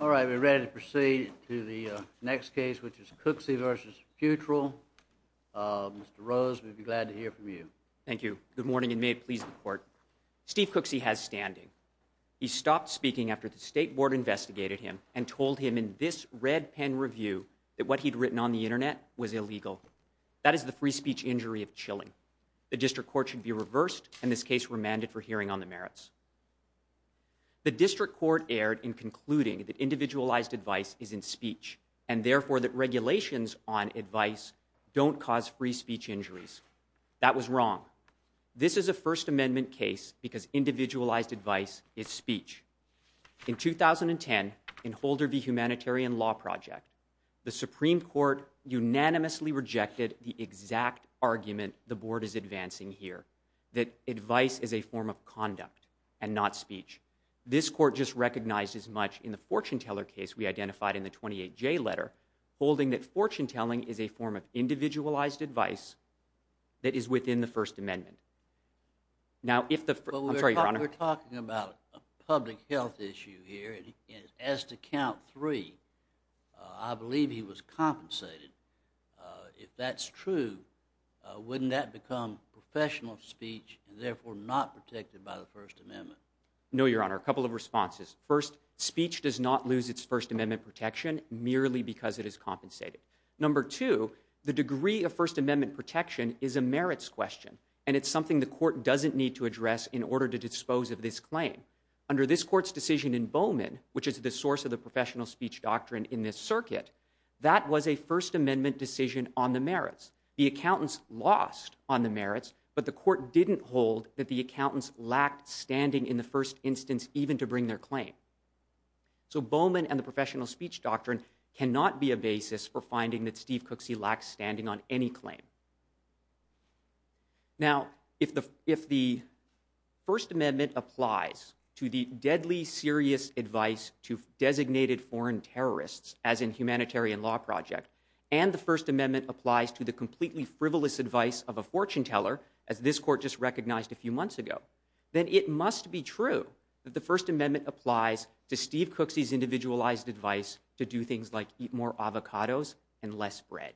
All right, we're ready to proceed to the next case, which is Cooksey v. Futrell. Mr. Rose, we'd be glad to hear from you. Thank you. Good morning, and may it please the Court. Steve Cooksey has standing. He stopped speaking after the State Board investigated him and told him in this red pen review that what he'd written on the Internet was illegal. That is the free speech injury of chilling. The District Court should be reversed, and this case remanded for hearing on the merits. The District Court erred in concluding that individualized advice is in speech and therefore that regulations on advice don't cause free speech injuries. That was wrong. This is a First Amendment case because individualized advice is speech. In 2010, in Holder v. Humanitarian Law Project, the Supreme Court unanimously rejected the exact argument the Board is advancing here, that advice is a form of conduct and not speech. This Court just recognized as much in the fortune-teller case we identified in the 28J letter, holding that fortune-telling is a form of individualized advice that is within the First Amendment. Now, if the—I'm sorry, Your Honor. We're talking about a public health issue here, and as to count three, I believe he was compensated. If that's true, wouldn't that become professional speech and therefore not protected by the First Amendment? No, Your Honor. A couple of responses. First, speech does not lose its First Amendment protection merely because it is compensated. Number two, the degree of First Amendment protection is a merits question, and it's something the Court doesn't need to address in order to dispose of this claim. Under this Court's decision in Bowman, which is the source of the professional speech doctrine in this circuit, that was a First Amendment decision on the merits. The accountants lost on the merits, but the Court didn't hold that the accountants lacked standing in the first instance, even to bring their claim. So Bowman and the professional speech doctrine cannot be a basis for finding that Steve Cooksey lacked standing on any claim. Now, if the First Amendment applies to the deadly serious advice to designated foreign terrorists, as in humanitarian law project, and the First Amendment applies to the completely frivolous advice of a fortune teller, as this Court just recognized a few months ago, then it must be true that the First Amendment applies to Steve Cooksey's individualized advice to do things like eat more avocados and less bread.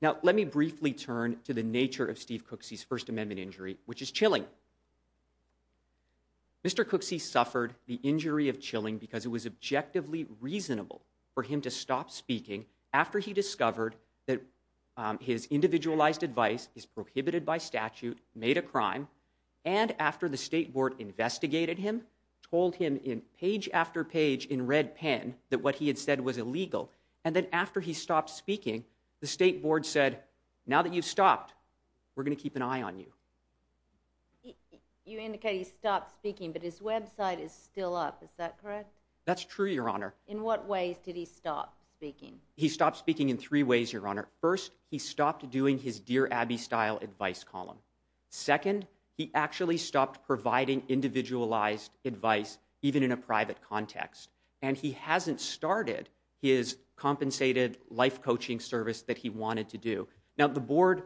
Now, let me briefly turn to the nature of Steve Cooksey's First Amendment injury, which is chilling. Mr. Cooksey suffered the injury of chilling because it was objectively reasonable for him to stop speaking after he discovered that his individualized advice is prohibited by statute, made a crime, and after the State Board investigated him, told him page after page in red pen that what he had said was illegal, and then after he stopped speaking, the State Board said, now that you've stopped, we're going to keep an eye on you. You indicate he stopped speaking, but his website is still up. Is that correct? That's true, Your Honor. In what ways did he stop speaking? He stopped speaking in three ways, Your Honor. First, he stopped doing his Dear Abby style advice column. Second, he actually stopped providing individualized advice even in a private context, and he hasn't started his compensated life coaching service that he wanted to do. Now, the Board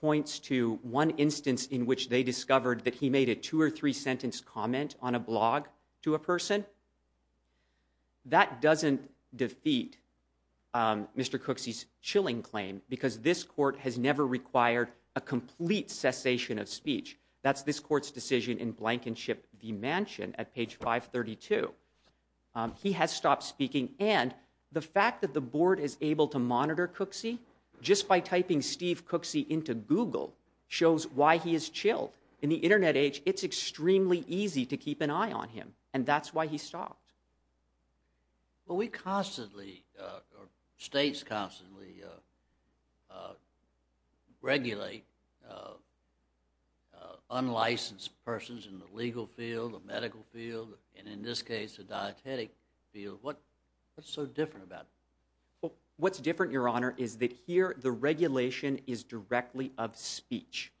points to one instance in which they discovered that he made a two- or three-sentence comment on a blog to a person. That doesn't defeat Mr. Cooksey's chilling claim because this Court has never required a complete cessation of speech. That's this Court's decision in Blankenship v. Mansion at page 532. He has stopped speaking, and the fact that the Board is able to monitor Cooksey just by typing Steve Cooksey into Google shows why he is chilled. In the Internet age, it's extremely easy to keep an eye on him, and that's why he stopped. Well, we constantly, or states constantly, regulate unlicensed persons in the legal field, the medical field, and in this case, the dietetic field. What's so different about it? What's different, Your Honor, is that here the regulation is directly of speech.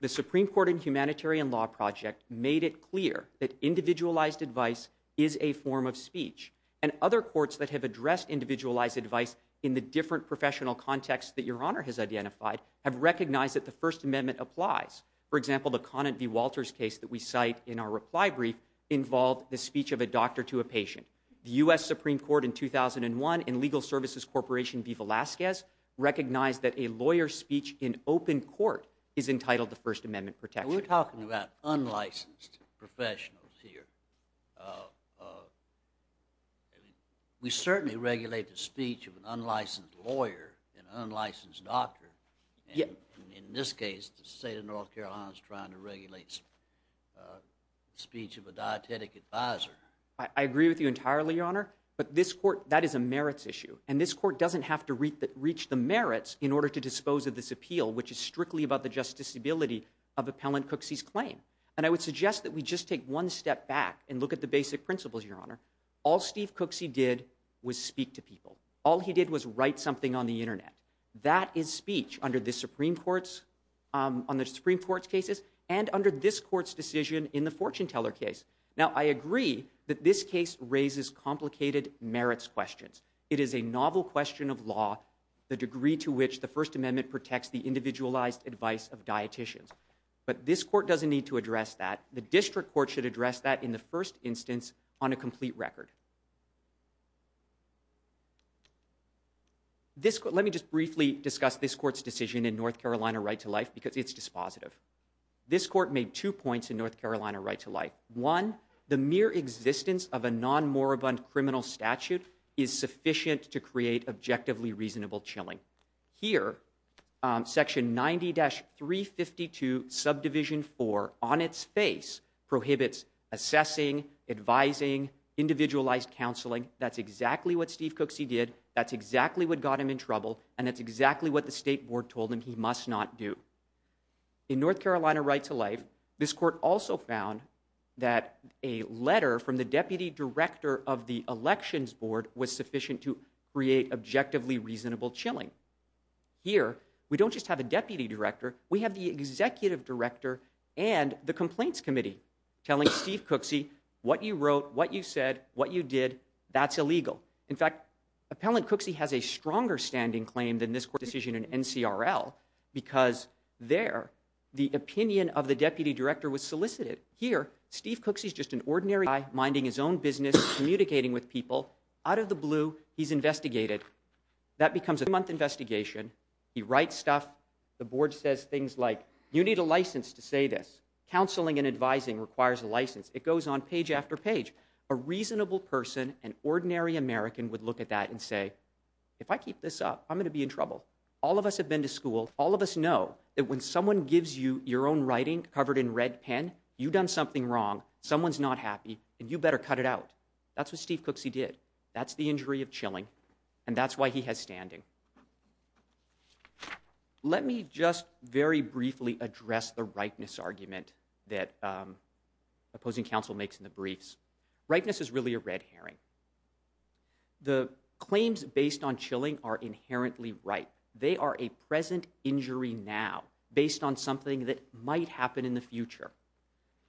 The Supreme Court and Humanitarian Law Project made it clear that individualized advice is a form of speech, and other courts that have addressed individualized advice in the different professional contexts that Your Honor has identified have recognized that the First Amendment applies. For example, the Conant v. Walters case that we cite in our reply brief involved the speech of a doctor to a patient. The U.S. Supreme Court in 2001 in Legal Services Corporation v. Velazquez recognized that a lawyer's speech in open court is entitled to First Amendment protection. We're talking about unlicensed professionals here. We certainly regulate the speech of an unlicensed lawyer, an unlicensed doctor. In this case, the state of North Carolina is trying to regulate the speech of a dietetic advisor. I agree with you entirely, Your Honor, but that is a merits issue, and this court doesn't have to reach the merits in order to dispose of this appeal, which is strictly about the justiciability of Appellant Cooksey's claim. And I would suggest that we just take one step back and look at the basic principles, Your Honor. All Steve Cooksey did was speak to people. All he did was write something on the Internet. That is speech under the Supreme Court's cases and under this court's decision in the Fortuneteller case. Now, I agree that this case raises complicated merits questions. It is a novel question of law, the degree to which the First Amendment protects the individualized advice of dieticians. But this court doesn't need to address that. The district court should address that in the first instance on a complete record. Let me just briefly discuss this court's decision in North Carolina Right to Life because it's dispositive. This court made two points in North Carolina Right to Life. One, the mere existence of a non-moribund criminal statute is sufficient to create objectively reasonable chilling. Here, Section 90-352, Subdivision 4, on its face, prohibits assessing, advising, individualized counseling. That's exactly what Steve Cooksey did. That's exactly what got him in trouble. And that's exactly what the State Board told him he must not do. In North Carolina Right to Life, this court also found that a letter from the Deputy Director of the Elections Board was sufficient to create objectively reasonable chilling. Here, we don't just have a Deputy Director, we have the Executive Director and the Complaints Committee telling Steve Cooksey, what you wrote, what you said, what you did, that's illegal. In fact, Appellant Cooksey has a stronger standing claim than this court's decision in NCRL because there, the opinion of the Deputy Director was solicited. Here, Steve Cooksey's just an ordinary guy minding his own business, communicating with people. Out of the blue, he's investigated. That becomes a three-month investigation. He writes stuff. The Board says things like, you need a license to say this. Counseling and advising requires a license. It goes on page after page. A reasonable person, an ordinary American, would look at that and say, if I keep this up, I'm going to be in trouble. All of us have been to school. All of us know that when someone gives you your own writing covered in red pen, you've done something wrong, someone's not happy, and you better cut it out. That's what Steve Cooksey did. That's the injury of chilling, and that's why he has standing. Let me just very briefly address the rightness argument that opposing counsel makes in the briefs. Rightness is really a red herring. The claims based on chilling are inherently right. They are a present injury now based on something that might happen in the future.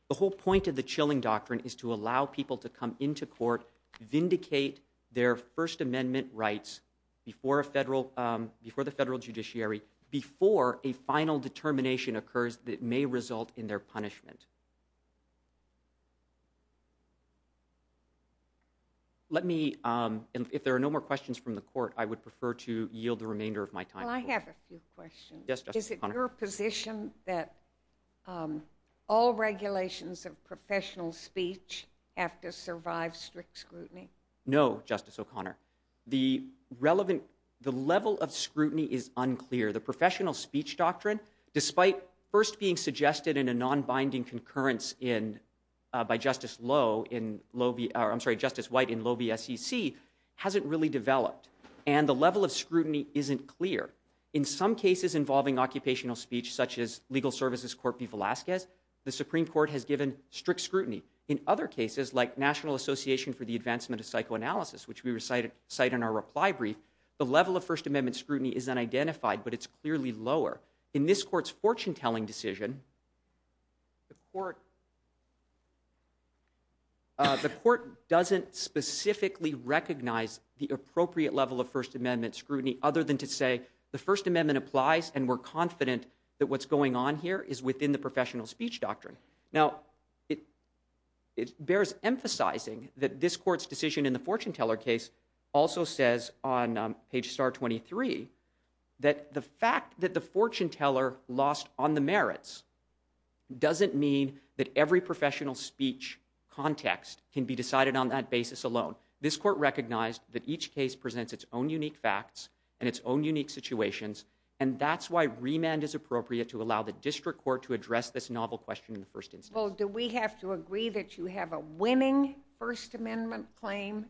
The whole point of the chilling doctrine is to allow people to come into court, vindicate their First Amendment rights before the federal judiciary, before a final determination occurs that may result in their punishment. I have a few questions. Is it your position that all regulations of professional speech have to survive strict scrutiny? No, Justice O'Connor. The level of scrutiny is unclear. The professional speech doctrine, despite first being suggested in a non-binding concurrence by Justice White in low BSEC, hasn't really developed, and the level of scrutiny isn't clear. In some cases involving occupational speech, such as Legal Services Court v. Velazquez, the Supreme Court has given strict scrutiny. In other cases, like National Association for the Advancement of Psychoanalysis, which we cite in our reply brief, the level of First Amendment scrutiny is unidentified, but it's clearly lower. In this court's fortune-telling decision, the court doesn't specifically recognize the appropriate level of First Amendment scrutiny other than to say the First Amendment applies, and we're confident that what's going on here is within the professional speech doctrine. Now, it bears emphasizing that this court's decision in the fortune-teller case also says on page star 23 that the fact that the fortune-teller lost on the merits doesn't mean that every professional speech context can be decided on that basis alone. This court recognized that each case presents its own unique facts and its own unique situations, and that's why remand is appropriate to allow the district court to address this novel question in the first instance. Well, do we have to agree that you have a winning First Amendment claim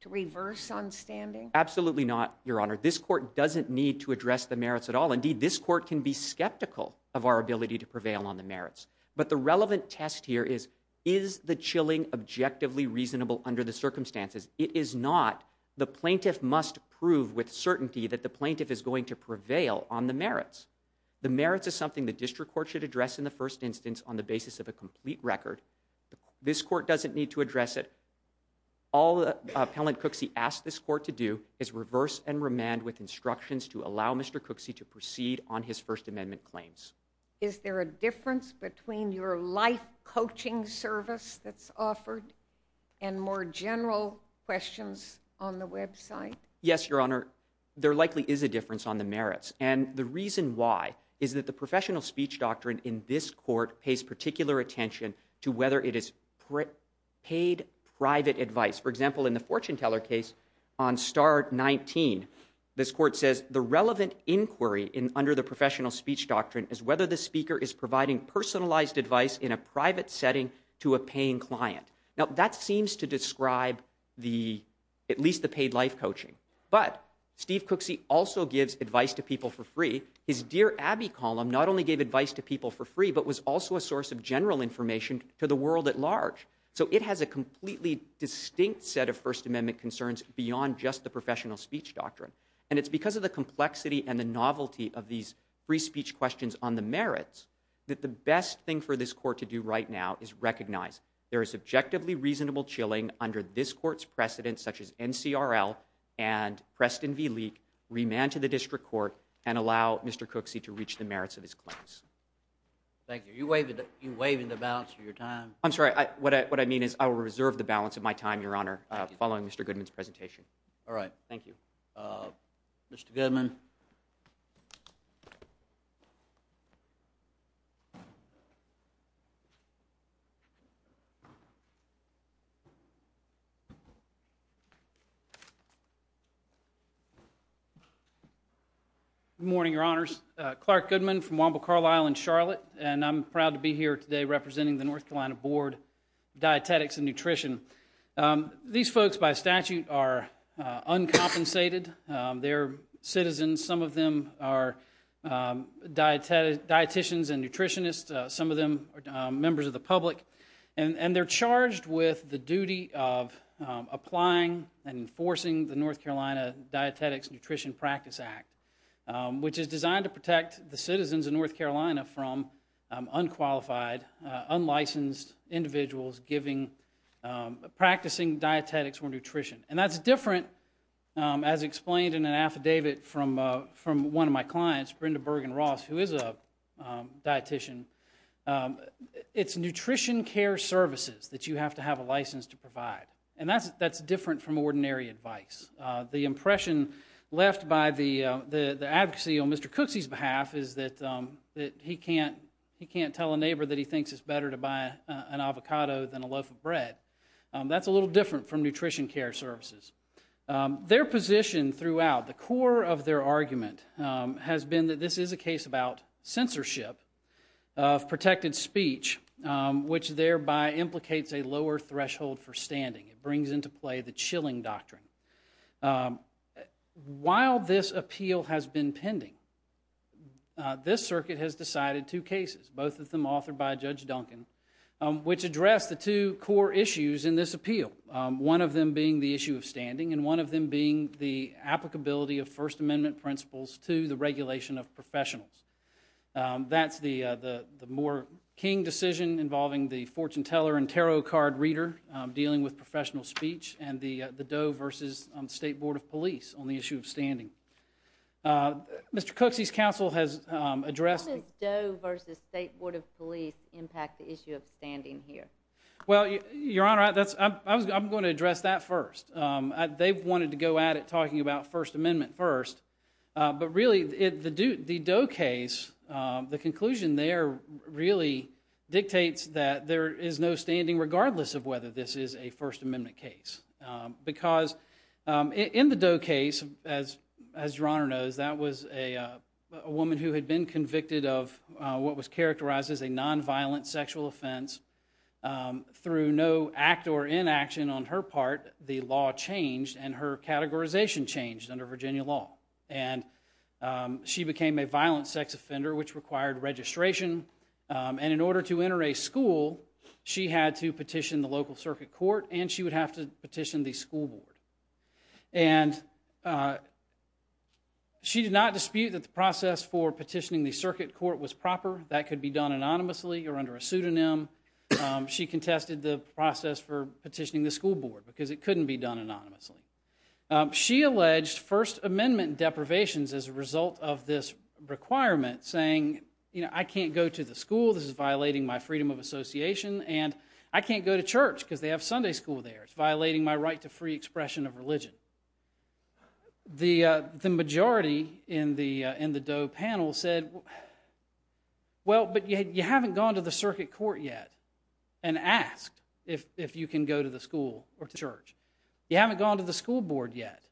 to reverse on standing? Absolutely not, Your Honor. This court doesn't need to address the merits at all. Indeed, this court can be skeptical of our ability to prevail on the merits. But the relevant test here is, is the chilling objectively reasonable under the circumstances? It is not. The plaintiff must prove with certainty that the plaintiff is going to prevail on the merits. The merits is something the district court should address in the first instance on the basis of a complete record. This court doesn't need to address it. All Appellant Cooksey asked this court to do is reverse and remand with instructions to allow Mr. Cooksey to proceed on his First Amendment claims. Is there a difference between your life coaching service that's offered and more general questions on the website? Yes, Your Honor. There likely is a difference on the merits. And the reason why is that the professional speech doctrine in this court pays particular attention to whether it is paid private advice. For example, in the fortune teller case on Star 19, this court says, the relevant inquiry under the professional speech doctrine is whether the speaker is providing personalized advice in a private setting to a paying client. Now, that seems to describe at least the paid life coaching. But Steve Cooksey also gives advice to people for free. His Dear Abby column not only gave advice to people for free, but was also a source of general information to the world at large. So it has a completely distinct set of First Amendment concerns beyond just the professional speech doctrine. And it's because of the complexity and the novelty of these free speech questions on the merits that the best thing for this court to do right now is recognize there is objectively reasonable chilling under this court's precedent, such as NCRL and Preston v. Leak, remand to the district court, and allow Mr. Cooksey to reach the merits of his claims. Thank you. Are you waiving the balance of your time? I'm sorry. What I mean is I will reserve the balance of my time, Your Honor, following Mr. Goodman's presentation. All right. Thank you. Mr. Goodman. Good morning, Your Honors. Clark Goodman from Wamba Carlisle in Charlotte, and I'm proud to be here today representing the North Carolina Board of Dietetics and Nutrition. These folks, by statute, are uncompensated. They're citizens. Some of them are dieticians and nutritionists. Some of them are members of the public. And they're charged with the duty of applying and enforcing the North Carolina Dietetics Nutrition Practice Act, which is designed to protect the citizens of North Carolina from unqualified, unlicensed individuals practicing dietetics or nutrition. And that's different, as explained in an affidavit from one of my clients, Brenda Bergen-Ross, who is a dietician. It's nutrition care services that you have to have a license to provide, and that's different from ordinary advice. The impression left by the advocacy on Mr. Cooksey's behalf is that he can't tell a neighbor that he thinks it's better to buy an avocado than a loaf of bread. That's a little different from nutrition care services. Their position throughout, the core of their argument, has been that this is a case about censorship of protected speech, which thereby implicates a lower threshold for standing. It brings into play the chilling doctrine. While this appeal has been pending, this circuit has decided two cases, both of them authored by Judge Duncan, which address the two core issues in this appeal, one of them being the issue of standing and one of them being the applicability of First Amendment principles to the regulation of professionals. That's the Moore-King decision involving the fortune teller and tarot card reader dealing with professional speech and the Doe v. State Board of Police on the issue of standing. Mr. Cooksey's counsel has addressed... How does Doe v. State Board of Police impact the issue of standing here? Well, Your Honor, I'm going to address that first. They wanted to go at it talking about First Amendment first, but really the Doe case, the conclusion there, really dictates that there is no standing regardless of whether this is a First Amendment case. Because in the Doe case, as Your Honor knows, that was a woman who had been convicted of what was characterized as a nonviolent sexual offense. Through no act or inaction on her part, the law changed and her categorization changed under Virginia law. And she became a violent sex offender which required registration. And in order to enter a school, she had to petition the local circuit court and she would have to petition the school board. And she did not dispute that the process for petitioning the circuit court was proper. That could be done anonymously or under a pseudonym. She contested the process for petitioning the school board because it couldn't be done anonymously. She alleged First Amendment deprivations as a result of this requirement saying, you know, I can't go to the school. This is violating my freedom of association. And I can't go to church because they have Sunday school there. It's violating my right to free expression of religion. The majority in the Doe panel said, well, but you haven't gone to the circuit court yet and asked if you can go to the school or to church. You haven't gone to the school board yet.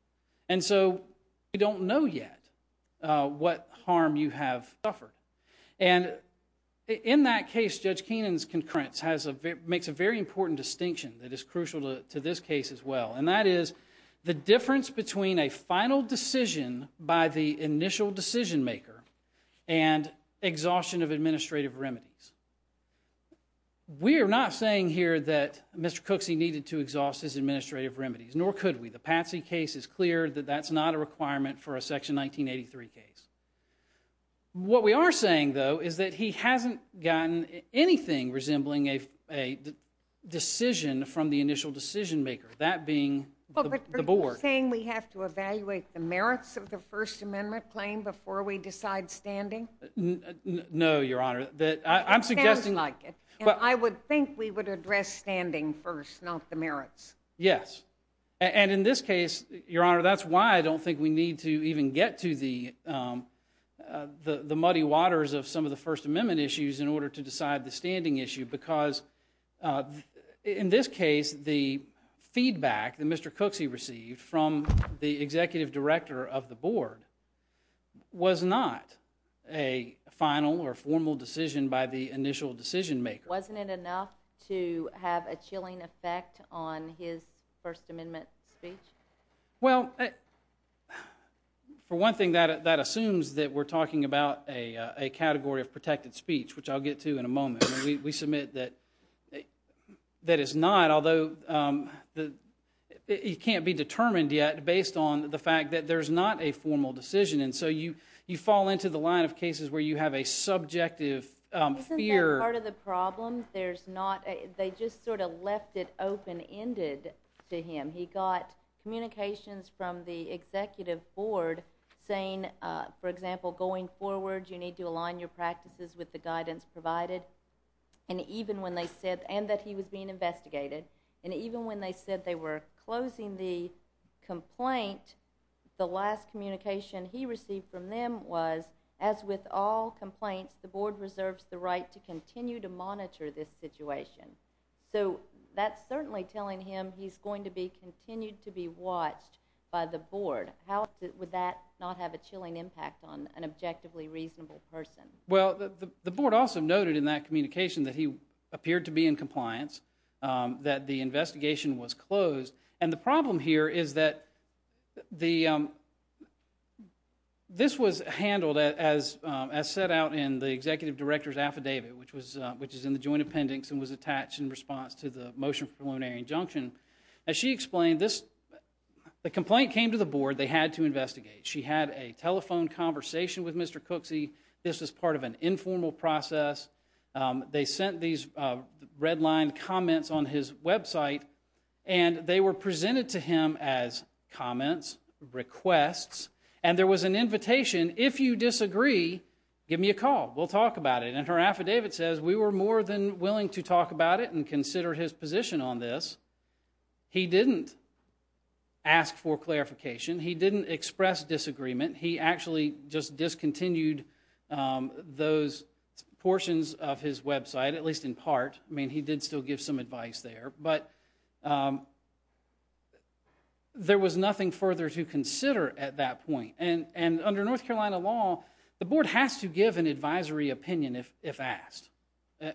And so we don't know yet what harm you have suffered. And in that case, Judge Keenan's concurrence makes a very important distinction that is crucial to this case as well, and that is the difference between a final decision by the initial decision maker and exhaustion of administrative remedies. We are not saying here that Mr. Cooksey needed to exhaust his administrative remedies, nor could we. The Patsy case is clear that that's not a requirement for a Section 1983 case. What we are saying, though, is that he hasn't gotten anything resembling a decision from the initial decision maker, that being the board. Are you saying we have to evaluate the merits of the First Amendment claim before we decide standing? No, Your Honor. It sounds like it. I would think we would address standing first, not the merits. Yes. And in this case, Your Honor, that's why I don't think we need to even get to the muddy waters of some of the First Amendment issues in order to decide the standing issue because in this case, the feedback that Mr. Cooksey received from the executive director of the board was not a final or formal decision by the initial decision maker. Wasn't it enough to have a chilling effect on his First Amendment speech? Well, for one thing, that assumes that we're talking about a category of protected speech, which I'll get to in a moment. We submit that it's not, although it can't be determined yet based on the fact that there's not a formal decision, and so you fall into the line of cases where you have a subjective fear. Isn't that part of the problem? They just sort of left it open-ended to him. He got communications from the executive board saying, for example, going forward you need to align your practices with the guidance provided, and that he was being investigated, and even when they said they were closing the complaint, the last communication he received from them was, as with all complaints, the board reserves the right to continue to monitor this situation. So that's certainly telling him he's going to continue to be watched by the board. How would that not have a chilling impact on an objectively reasonable person? Well, the board also noted in that communication that he appeared to be in compliance, that the investigation was closed, and the problem here is that this was handled as set out in the executive director's affidavit, which is in the joint appendix and was attached in response to the motion for preliminary injunction. As she explained, the complaint came to the board. They had to investigate. She had a telephone conversation with Mr. Cooksey. This was part of an informal process. They sent these red-lined comments on his website, and they were presented to him as comments, requests, and there was an invitation, if you disagree, give me a call. We'll talk about it, and her affidavit says, we were more than willing to talk about it and consider his position on this. He didn't ask for clarification. He didn't express disagreement. He actually just discontinued those portions of his website, at least in part. I mean, he did still give some advice there, but there was nothing further to consider at that point, and under North Carolina law, the board has to give an advisory opinion if asked.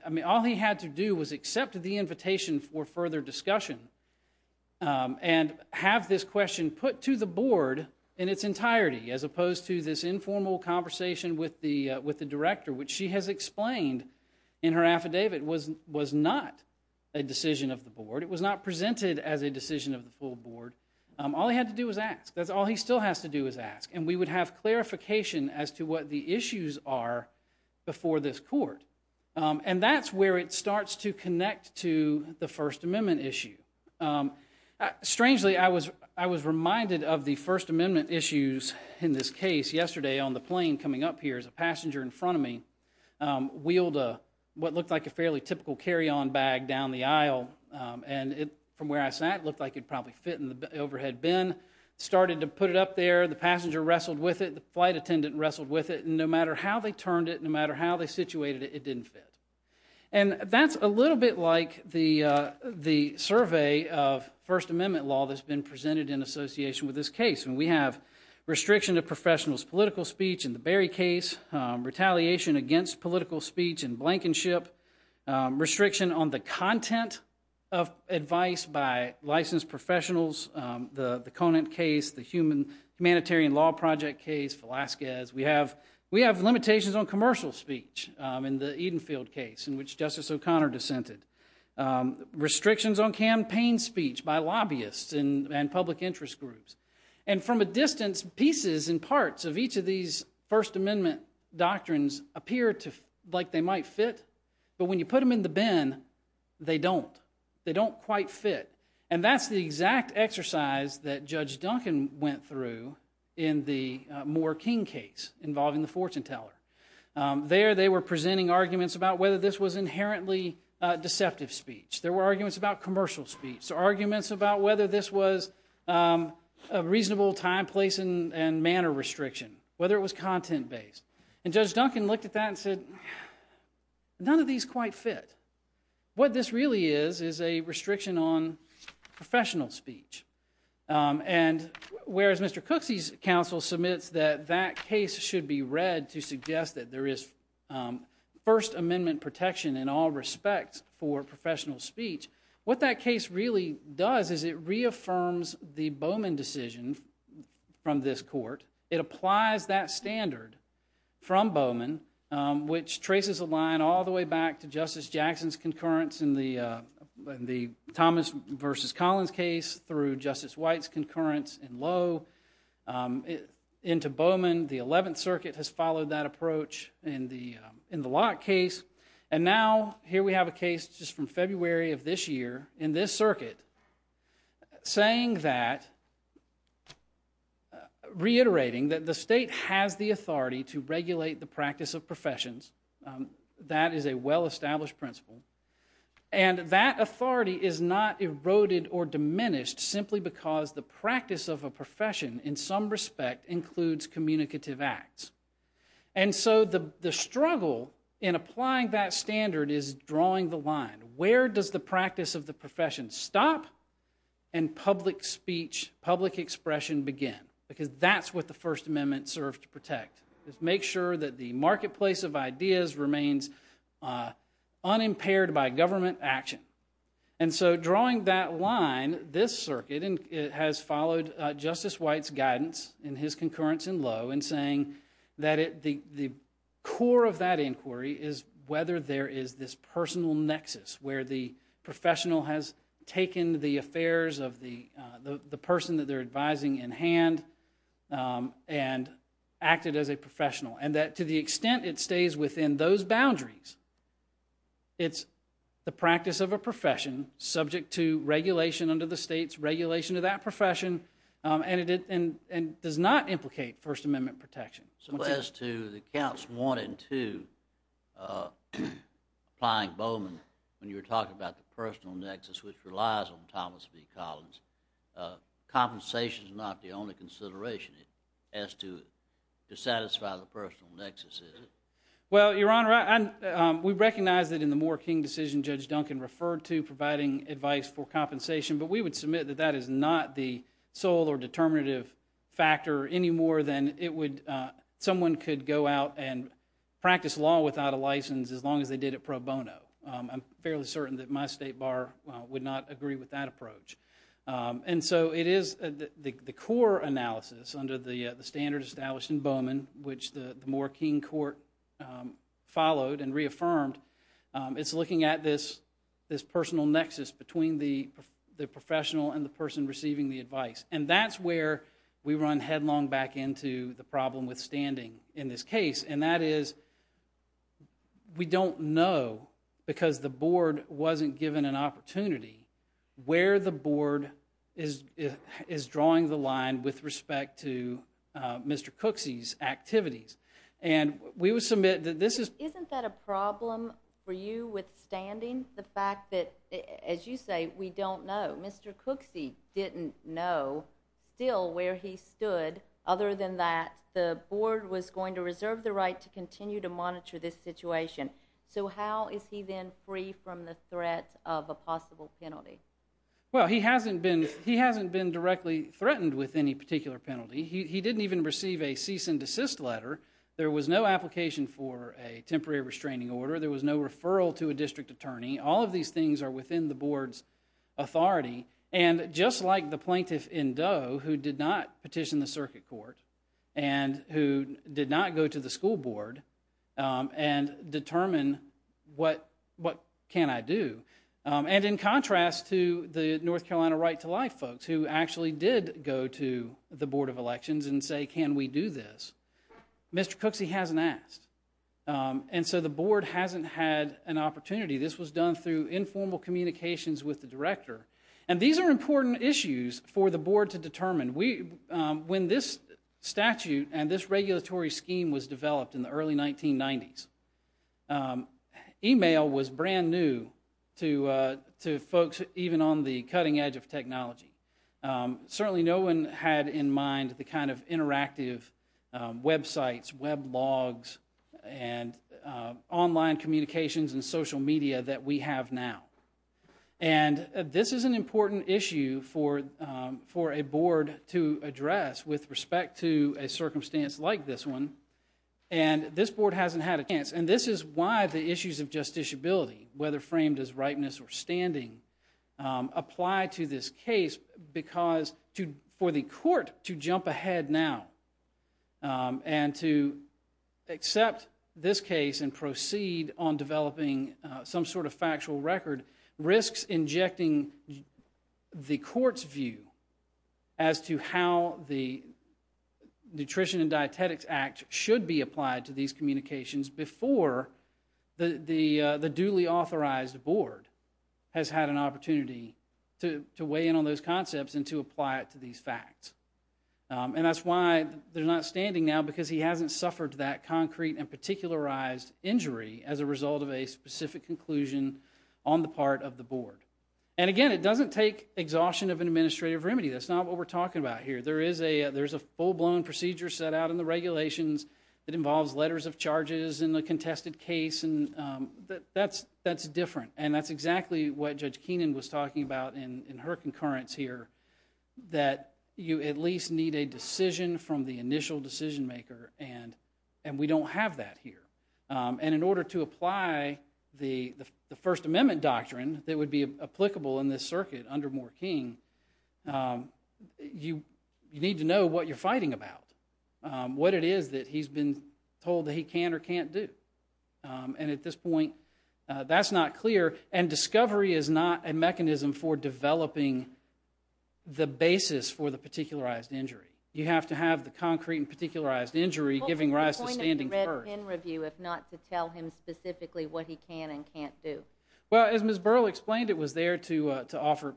I mean, all he had to do was accept the invitation for further discussion and have this question put to the board in its entirety as opposed to this informal conversation with the director, which she has explained in her affidavit was not a decision of the board. It was not presented as a decision of the full board. All he had to do was ask. That's all he still has to do is ask, and we would have clarification as to what the issues are before this court, and that's where it starts to connect to the First Amendment issue. Strangely, I was reminded of the First Amendment issues in this case yesterday on the plane coming up here as a passenger in front of me, wheeled what looked like a fairly typical carry-on bag down the aisle, and from where I sat, it looked like it probably fit in the overhead bin, started to put it up there. The passenger wrestled with it. The flight attendant wrestled with it, and no matter how they turned it, no matter how they situated it, it didn't fit, and that's a little bit like the survey of First Amendment law that's been presented in association with this case, and we have restriction of professionals' political speech in the Berry case, retaliation against political speech and blankenship, restriction on the content of advice by licensed professionals, the Conant case, the Humanitarian Law Project case, Velazquez. We have limitations on commercial speech in the Edenfield case in which Justice O'Connor dissented, restrictions on campaign speech by lobbyists and public interest groups, and from a distance, pieces and parts of each of these First Amendment doctrines appear like they might fit, but when you put them in the bin, they don't. They don't quite fit, and that's the exact exercise that Judge Duncan went through in the Moore-King case involving the fortune teller. There they were presenting arguments about whether this was inherently deceptive speech. There were arguments about commercial speech, so arguments about whether this was a reasonable time, place, and manner restriction, whether it was content-based, and Judge Duncan looked at that and said, none of these quite fit. What this really is is a restriction on professional speech, and whereas Mr. Cooksey's counsel submits that that case should be read to suggest that there is First Amendment protection in all respects for professional speech, what that case really does is it reaffirms the Bowman decision from this court. It applies that standard from Bowman, which traces a line all the way back to Justice Jackson's concurrence in the Thomas v. Collins case through Justice White's concurrence in Lowe into Bowman. The Eleventh Circuit has followed that approach in the Locke case, and now here we have a case just from February of this year in this circuit saying that, reiterating that the state has the authority to regulate the practice of professions. That is a well-established principle, and that authority is not eroded or diminished simply because the practice of a profession in some respect includes communicative acts. And so the struggle in applying that standard is drawing the line. Where does the practice of the profession stop and public speech, public expression begin? Because that's what the First Amendment served to protect. It makes sure that the marketplace of ideas remains unimpaired by government action. And so drawing that line, this circuit has followed Justice White's guidance in his concurrence in Lowe in saying that the core of that inquiry is whether there is this personal nexus where the professional has taken the affairs of the person that they're advising in hand and acted as a professional, and that to the extent it stays within those boundaries, it's the practice of a profession subject to regulation under the state's regulation to that profession and does not implicate First Amendment protection. So as to the counts one and two, applying Bowman, when you were talking about the personal nexus which relies on Thomas B. Collins, compensation is not the only consideration as to satisfy the personal nexus, is it? Well, Your Honor, we recognize that in the Moore King decision Judge Duncan referred to providing advice for compensation, but we would submit that that is not the sole or determinative factor any more than someone could go out and practice law without a license as long as they did it pro bono. I'm fairly certain that my State Bar would not agree with that approach. And so it is the core analysis under the standard established in Bowman, which the Moore King court followed and reaffirmed, it's looking at this personal nexus between the professional and the person receiving the advice. And that's where we run headlong back into the problem with standing in this case, and that is we don't know, because the board wasn't given an opportunity, where the board is drawing the line with respect to Mr. Cooksey's activities. Isn't that a problem for you with standing? The fact that, as you say, we don't know. Mr. Cooksey didn't know still where he stood, other than that the board was going to reserve the right to continue to monitor this situation. So how is he then free from the threat of a possible penalty? Well, he hasn't been directly threatened with any particular penalty. He didn't even receive a cease and desist letter. There was no application for a temporary restraining order. There was no referral to a district attorney. All of these things are within the board's authority. And just like the plaintiff in Doe who did not petition the circuit court and who did not go to the school board and determine what can I do, and in contrast to the North Carolina Right to Life folks who actually did go to the Board of Elections and say can we do this, Mr. Cooksey hasn't asked. And so the board hasn't had an opportunity. This was done through informal communications with the director. And these are important issues for the board to determine. When this statute and this regulatory scheme was developed in the early 1990s, email was brand new to folks even on the cutting edge of technology. Certainly no one had in mind the kind of interactive websites, web logs, and online communications and social media that we have now. And this is an important issue for a board to address with respect to a circumstance like this one. And this board hasn't had a chance. And this is why the issues of justiciability, whether framed as ripeness or standing, apply to this case because for the court to jump ahead now and to accept this case and proceed on developing some sort of factual record risks injecting the court's view as to how the Nutrition and Dietetics Act should be applied to these communications before the duly authorized board has had an opportunity to weigh in on those concepts and to apply it to these facts. And that's why they're not standing now because he hasn't suffered that concrete and particularized injury as a result of a specific conclusion on the part of the board. And again, it doesn't take exhaustion of an administrative remedy. That's not what we're talking about here. There is a full-blown procedure set out in the regulations that involves letters of charges in the contested case, and that's different. And that's exactly what Judge Keenan was talking about in her concurrence here, that you at least need a decision from the initial decision maker, and we don't have that here. And in order to apply the First Amendment doctrine that would be applicable in this circuit under Moore King, you need to know what you're fighting about, what it is that he's been told that he can or can't do. And at this point, that's not clear. And discovery is not a mechanism for developing the basis for the particularized injury. You have to have the concrete and particularized injury giving rise to standing first. What would be the point of the Red Pen review if not to tell him specifically what he can and can't do? Well, as Ms. Burrell explained, it was there to offer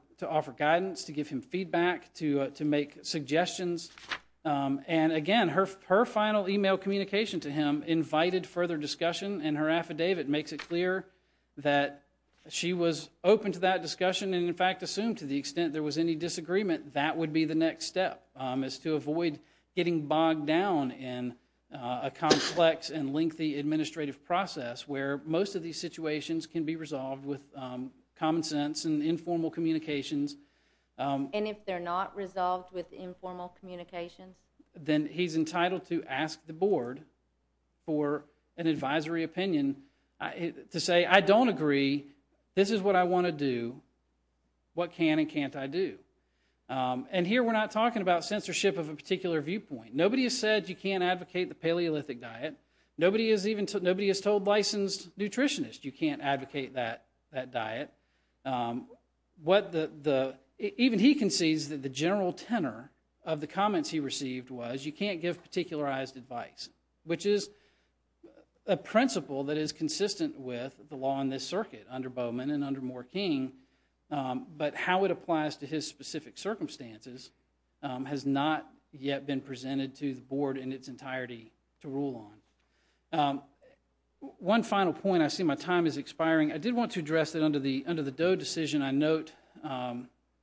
guidance, to give him feedback, to make suggestions. And again, her final e-mail communication to him invited further discussion, and her affidavit makes it clear that she was open to that discussion and, in fact, assumed to the extent there was any disagreement, that would be the next step, is to avoid getting bogged down in a complex and lengthy administrative process where most of these situations can be resolved with common sense and informal communications. And if they're not resolved with informal communications? Then he's entitled to ask the board for an advisory opinion to say, I don't agree, this is what I want to do, what can and can't I do? And here we're not talking about censorship of a particular viewpoint. Nobody has said you can't advocate the Paleolithic diet. Nobody has told licensed nutritionists you can't advocate that diet. Even he concedes that the general tenor of the comments he received was you can't give particularized advice, which is a principle that is consistent with the law in this circuit under Bowman and under Moore King, but how it applies to his specific circumstances has not yet been presented to the board in its entirety to rule on. One final point, I see my time is expiring. I did want to address that under the Doe decision, I note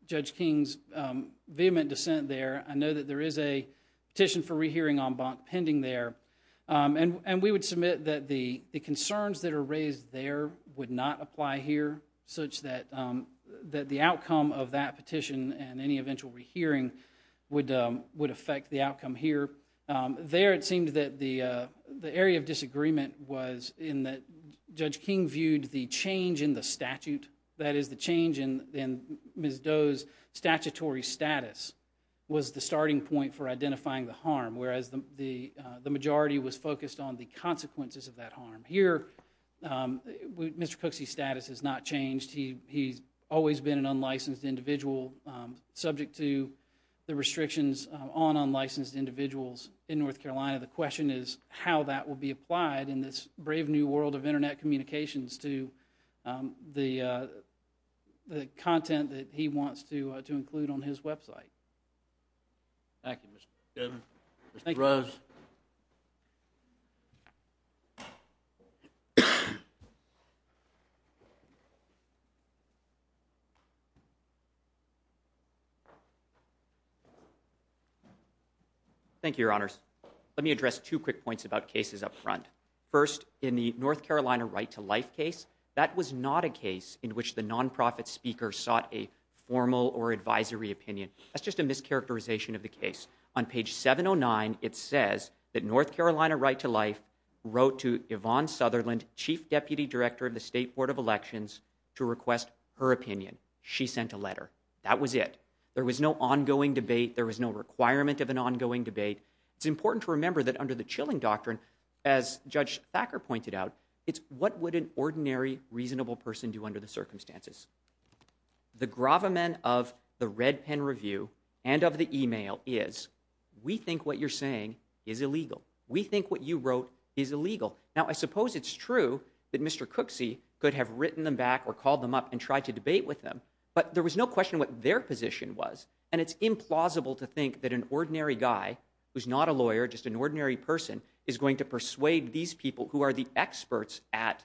Judge King's vehement dissent there. I know that there is a petition for rehearing en banc pending there, and we would submit that the concerns that are raised there would not apply here, such that the outcome of that petition and any eventual rehearing would affect the outcome here. There it seemed that the area of disagreement was in that Judge King viewed the change in the statute, that is the change in Ms. Doe's statutory status, was the starting point for identifying the harm, whereas the majority was focused on the consequences of that harm. Here, Mr. Cooksey's status has not changed. He's always been an unlicensed individual, subject to the restrictions on unlicensed individuals in North Carolina. The question is how that will be applied in this brave new world of Internet communications to the content that he wants to include on his website. Thank you, Mr. Chairman. Mr. Rose. Thank you, Your Honors. Let me address two quick points about cases up front. First, in the North Carolina Right to Life case, that was not a case in which the non-profit speaker sought a formal or advisory opinion. That's just a mischaracterization of the case. On page 709, it says that North Carolina Right to Life wrote to Yvonne Sutherland, Chief Deputy Director of the State Board of Elections, to request her opinion. She sent a letter. That was it. There was no ongoing debate. There was no requirement of an ongoing debate. It's important to remember that under the Chilling Doctrine, as Judge Thacker pointed out, it's what would an ordinary, reasonable person do under the circumstances. The gravamen of the red pen review and of the e-mail is we think what you're saying is illegal. We think what you wrote is illegal. Now, I suppose it's true that Mr. Cooksey could have written them back or called them up and tried to debate with them, but there was no question what their position was, and it's implausible to think that an ordinary guy who's not a lawyer, just an ordinary person, is going to persuade these people, who are the experts at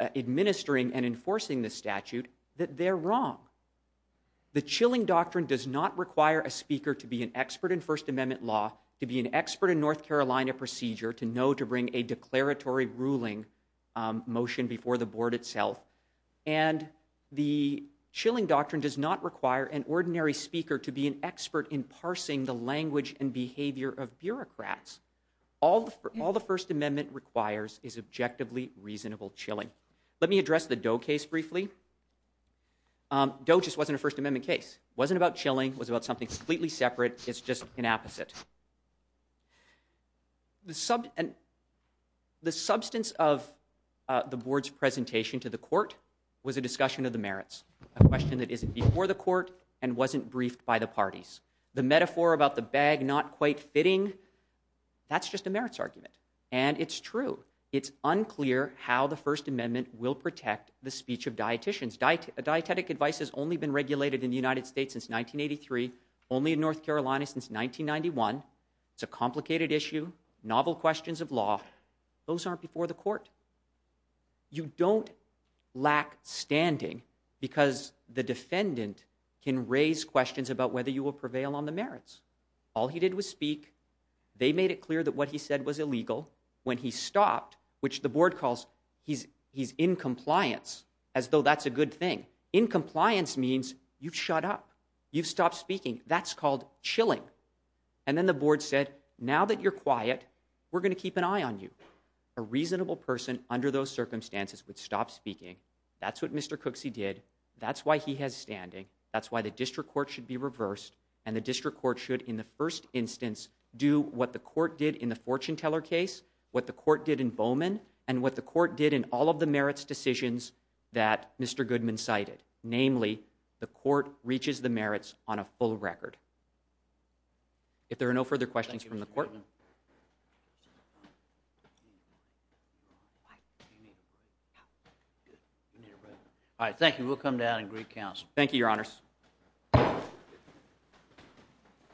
administering and enforcing this statute, that they're wrong. The Chilling Doctrine does not require a speaker to be an expert in First Amendment law, to be an expert in North Carolina procedure, to know to bring a declaratory ruling motion before the board itself, and the Chilling Doctrine does not require an ordinary speaker to be an expert in parsing the language and behavior of bureaucrats. All the First Amendment requires is objectively reasonable chilling. Let me address the Doe case briefly. Doe just wasn't a First Amendment case. It wasn't about chilling. It was about something completely separate. It's just an opposite. The substance of the board's presentation to the court was a discussion of the merits, a question that isn't before the court and wasn't briefed by the parties. The metaphor about the bag not quite fitting, that's just a merits argument, and it's true. It's unclear how the First Amendment will protect the speech of dietitians. Dietetic advice has only been regulated in the United States since 1983, only in North Carolina since 1991, it's a complicated issue, novel questions of law, those aren't before the court. You don't lack standing because the defendant can raise questions about whether you will prevail on the merits. All he did was speak, they made it clear that what he said was illegal, when he stopped, which the board calls he's in compliance, as though that's a good thing. In compliance means you've shut up, you've stopped speaking, that's called chilling. And then the board said, now that you're quiet, we're going to keep an eye on you. A reasonable person under those circumstances would stop speaking, that's what Mr. Cooksey did, that's why he has standing, that's why the district court should be reversed, and the district court should in the first instance do what the court did in the Fortuneteller case, what the court did in Bowman, and what the court did in all of the merits decisions that Mr. Goodman cited, namely, the court reaches the merits on a full record. If there are no further questions from the court. All right, thank you, we'll come down and greet counsel. Thank you, your honors.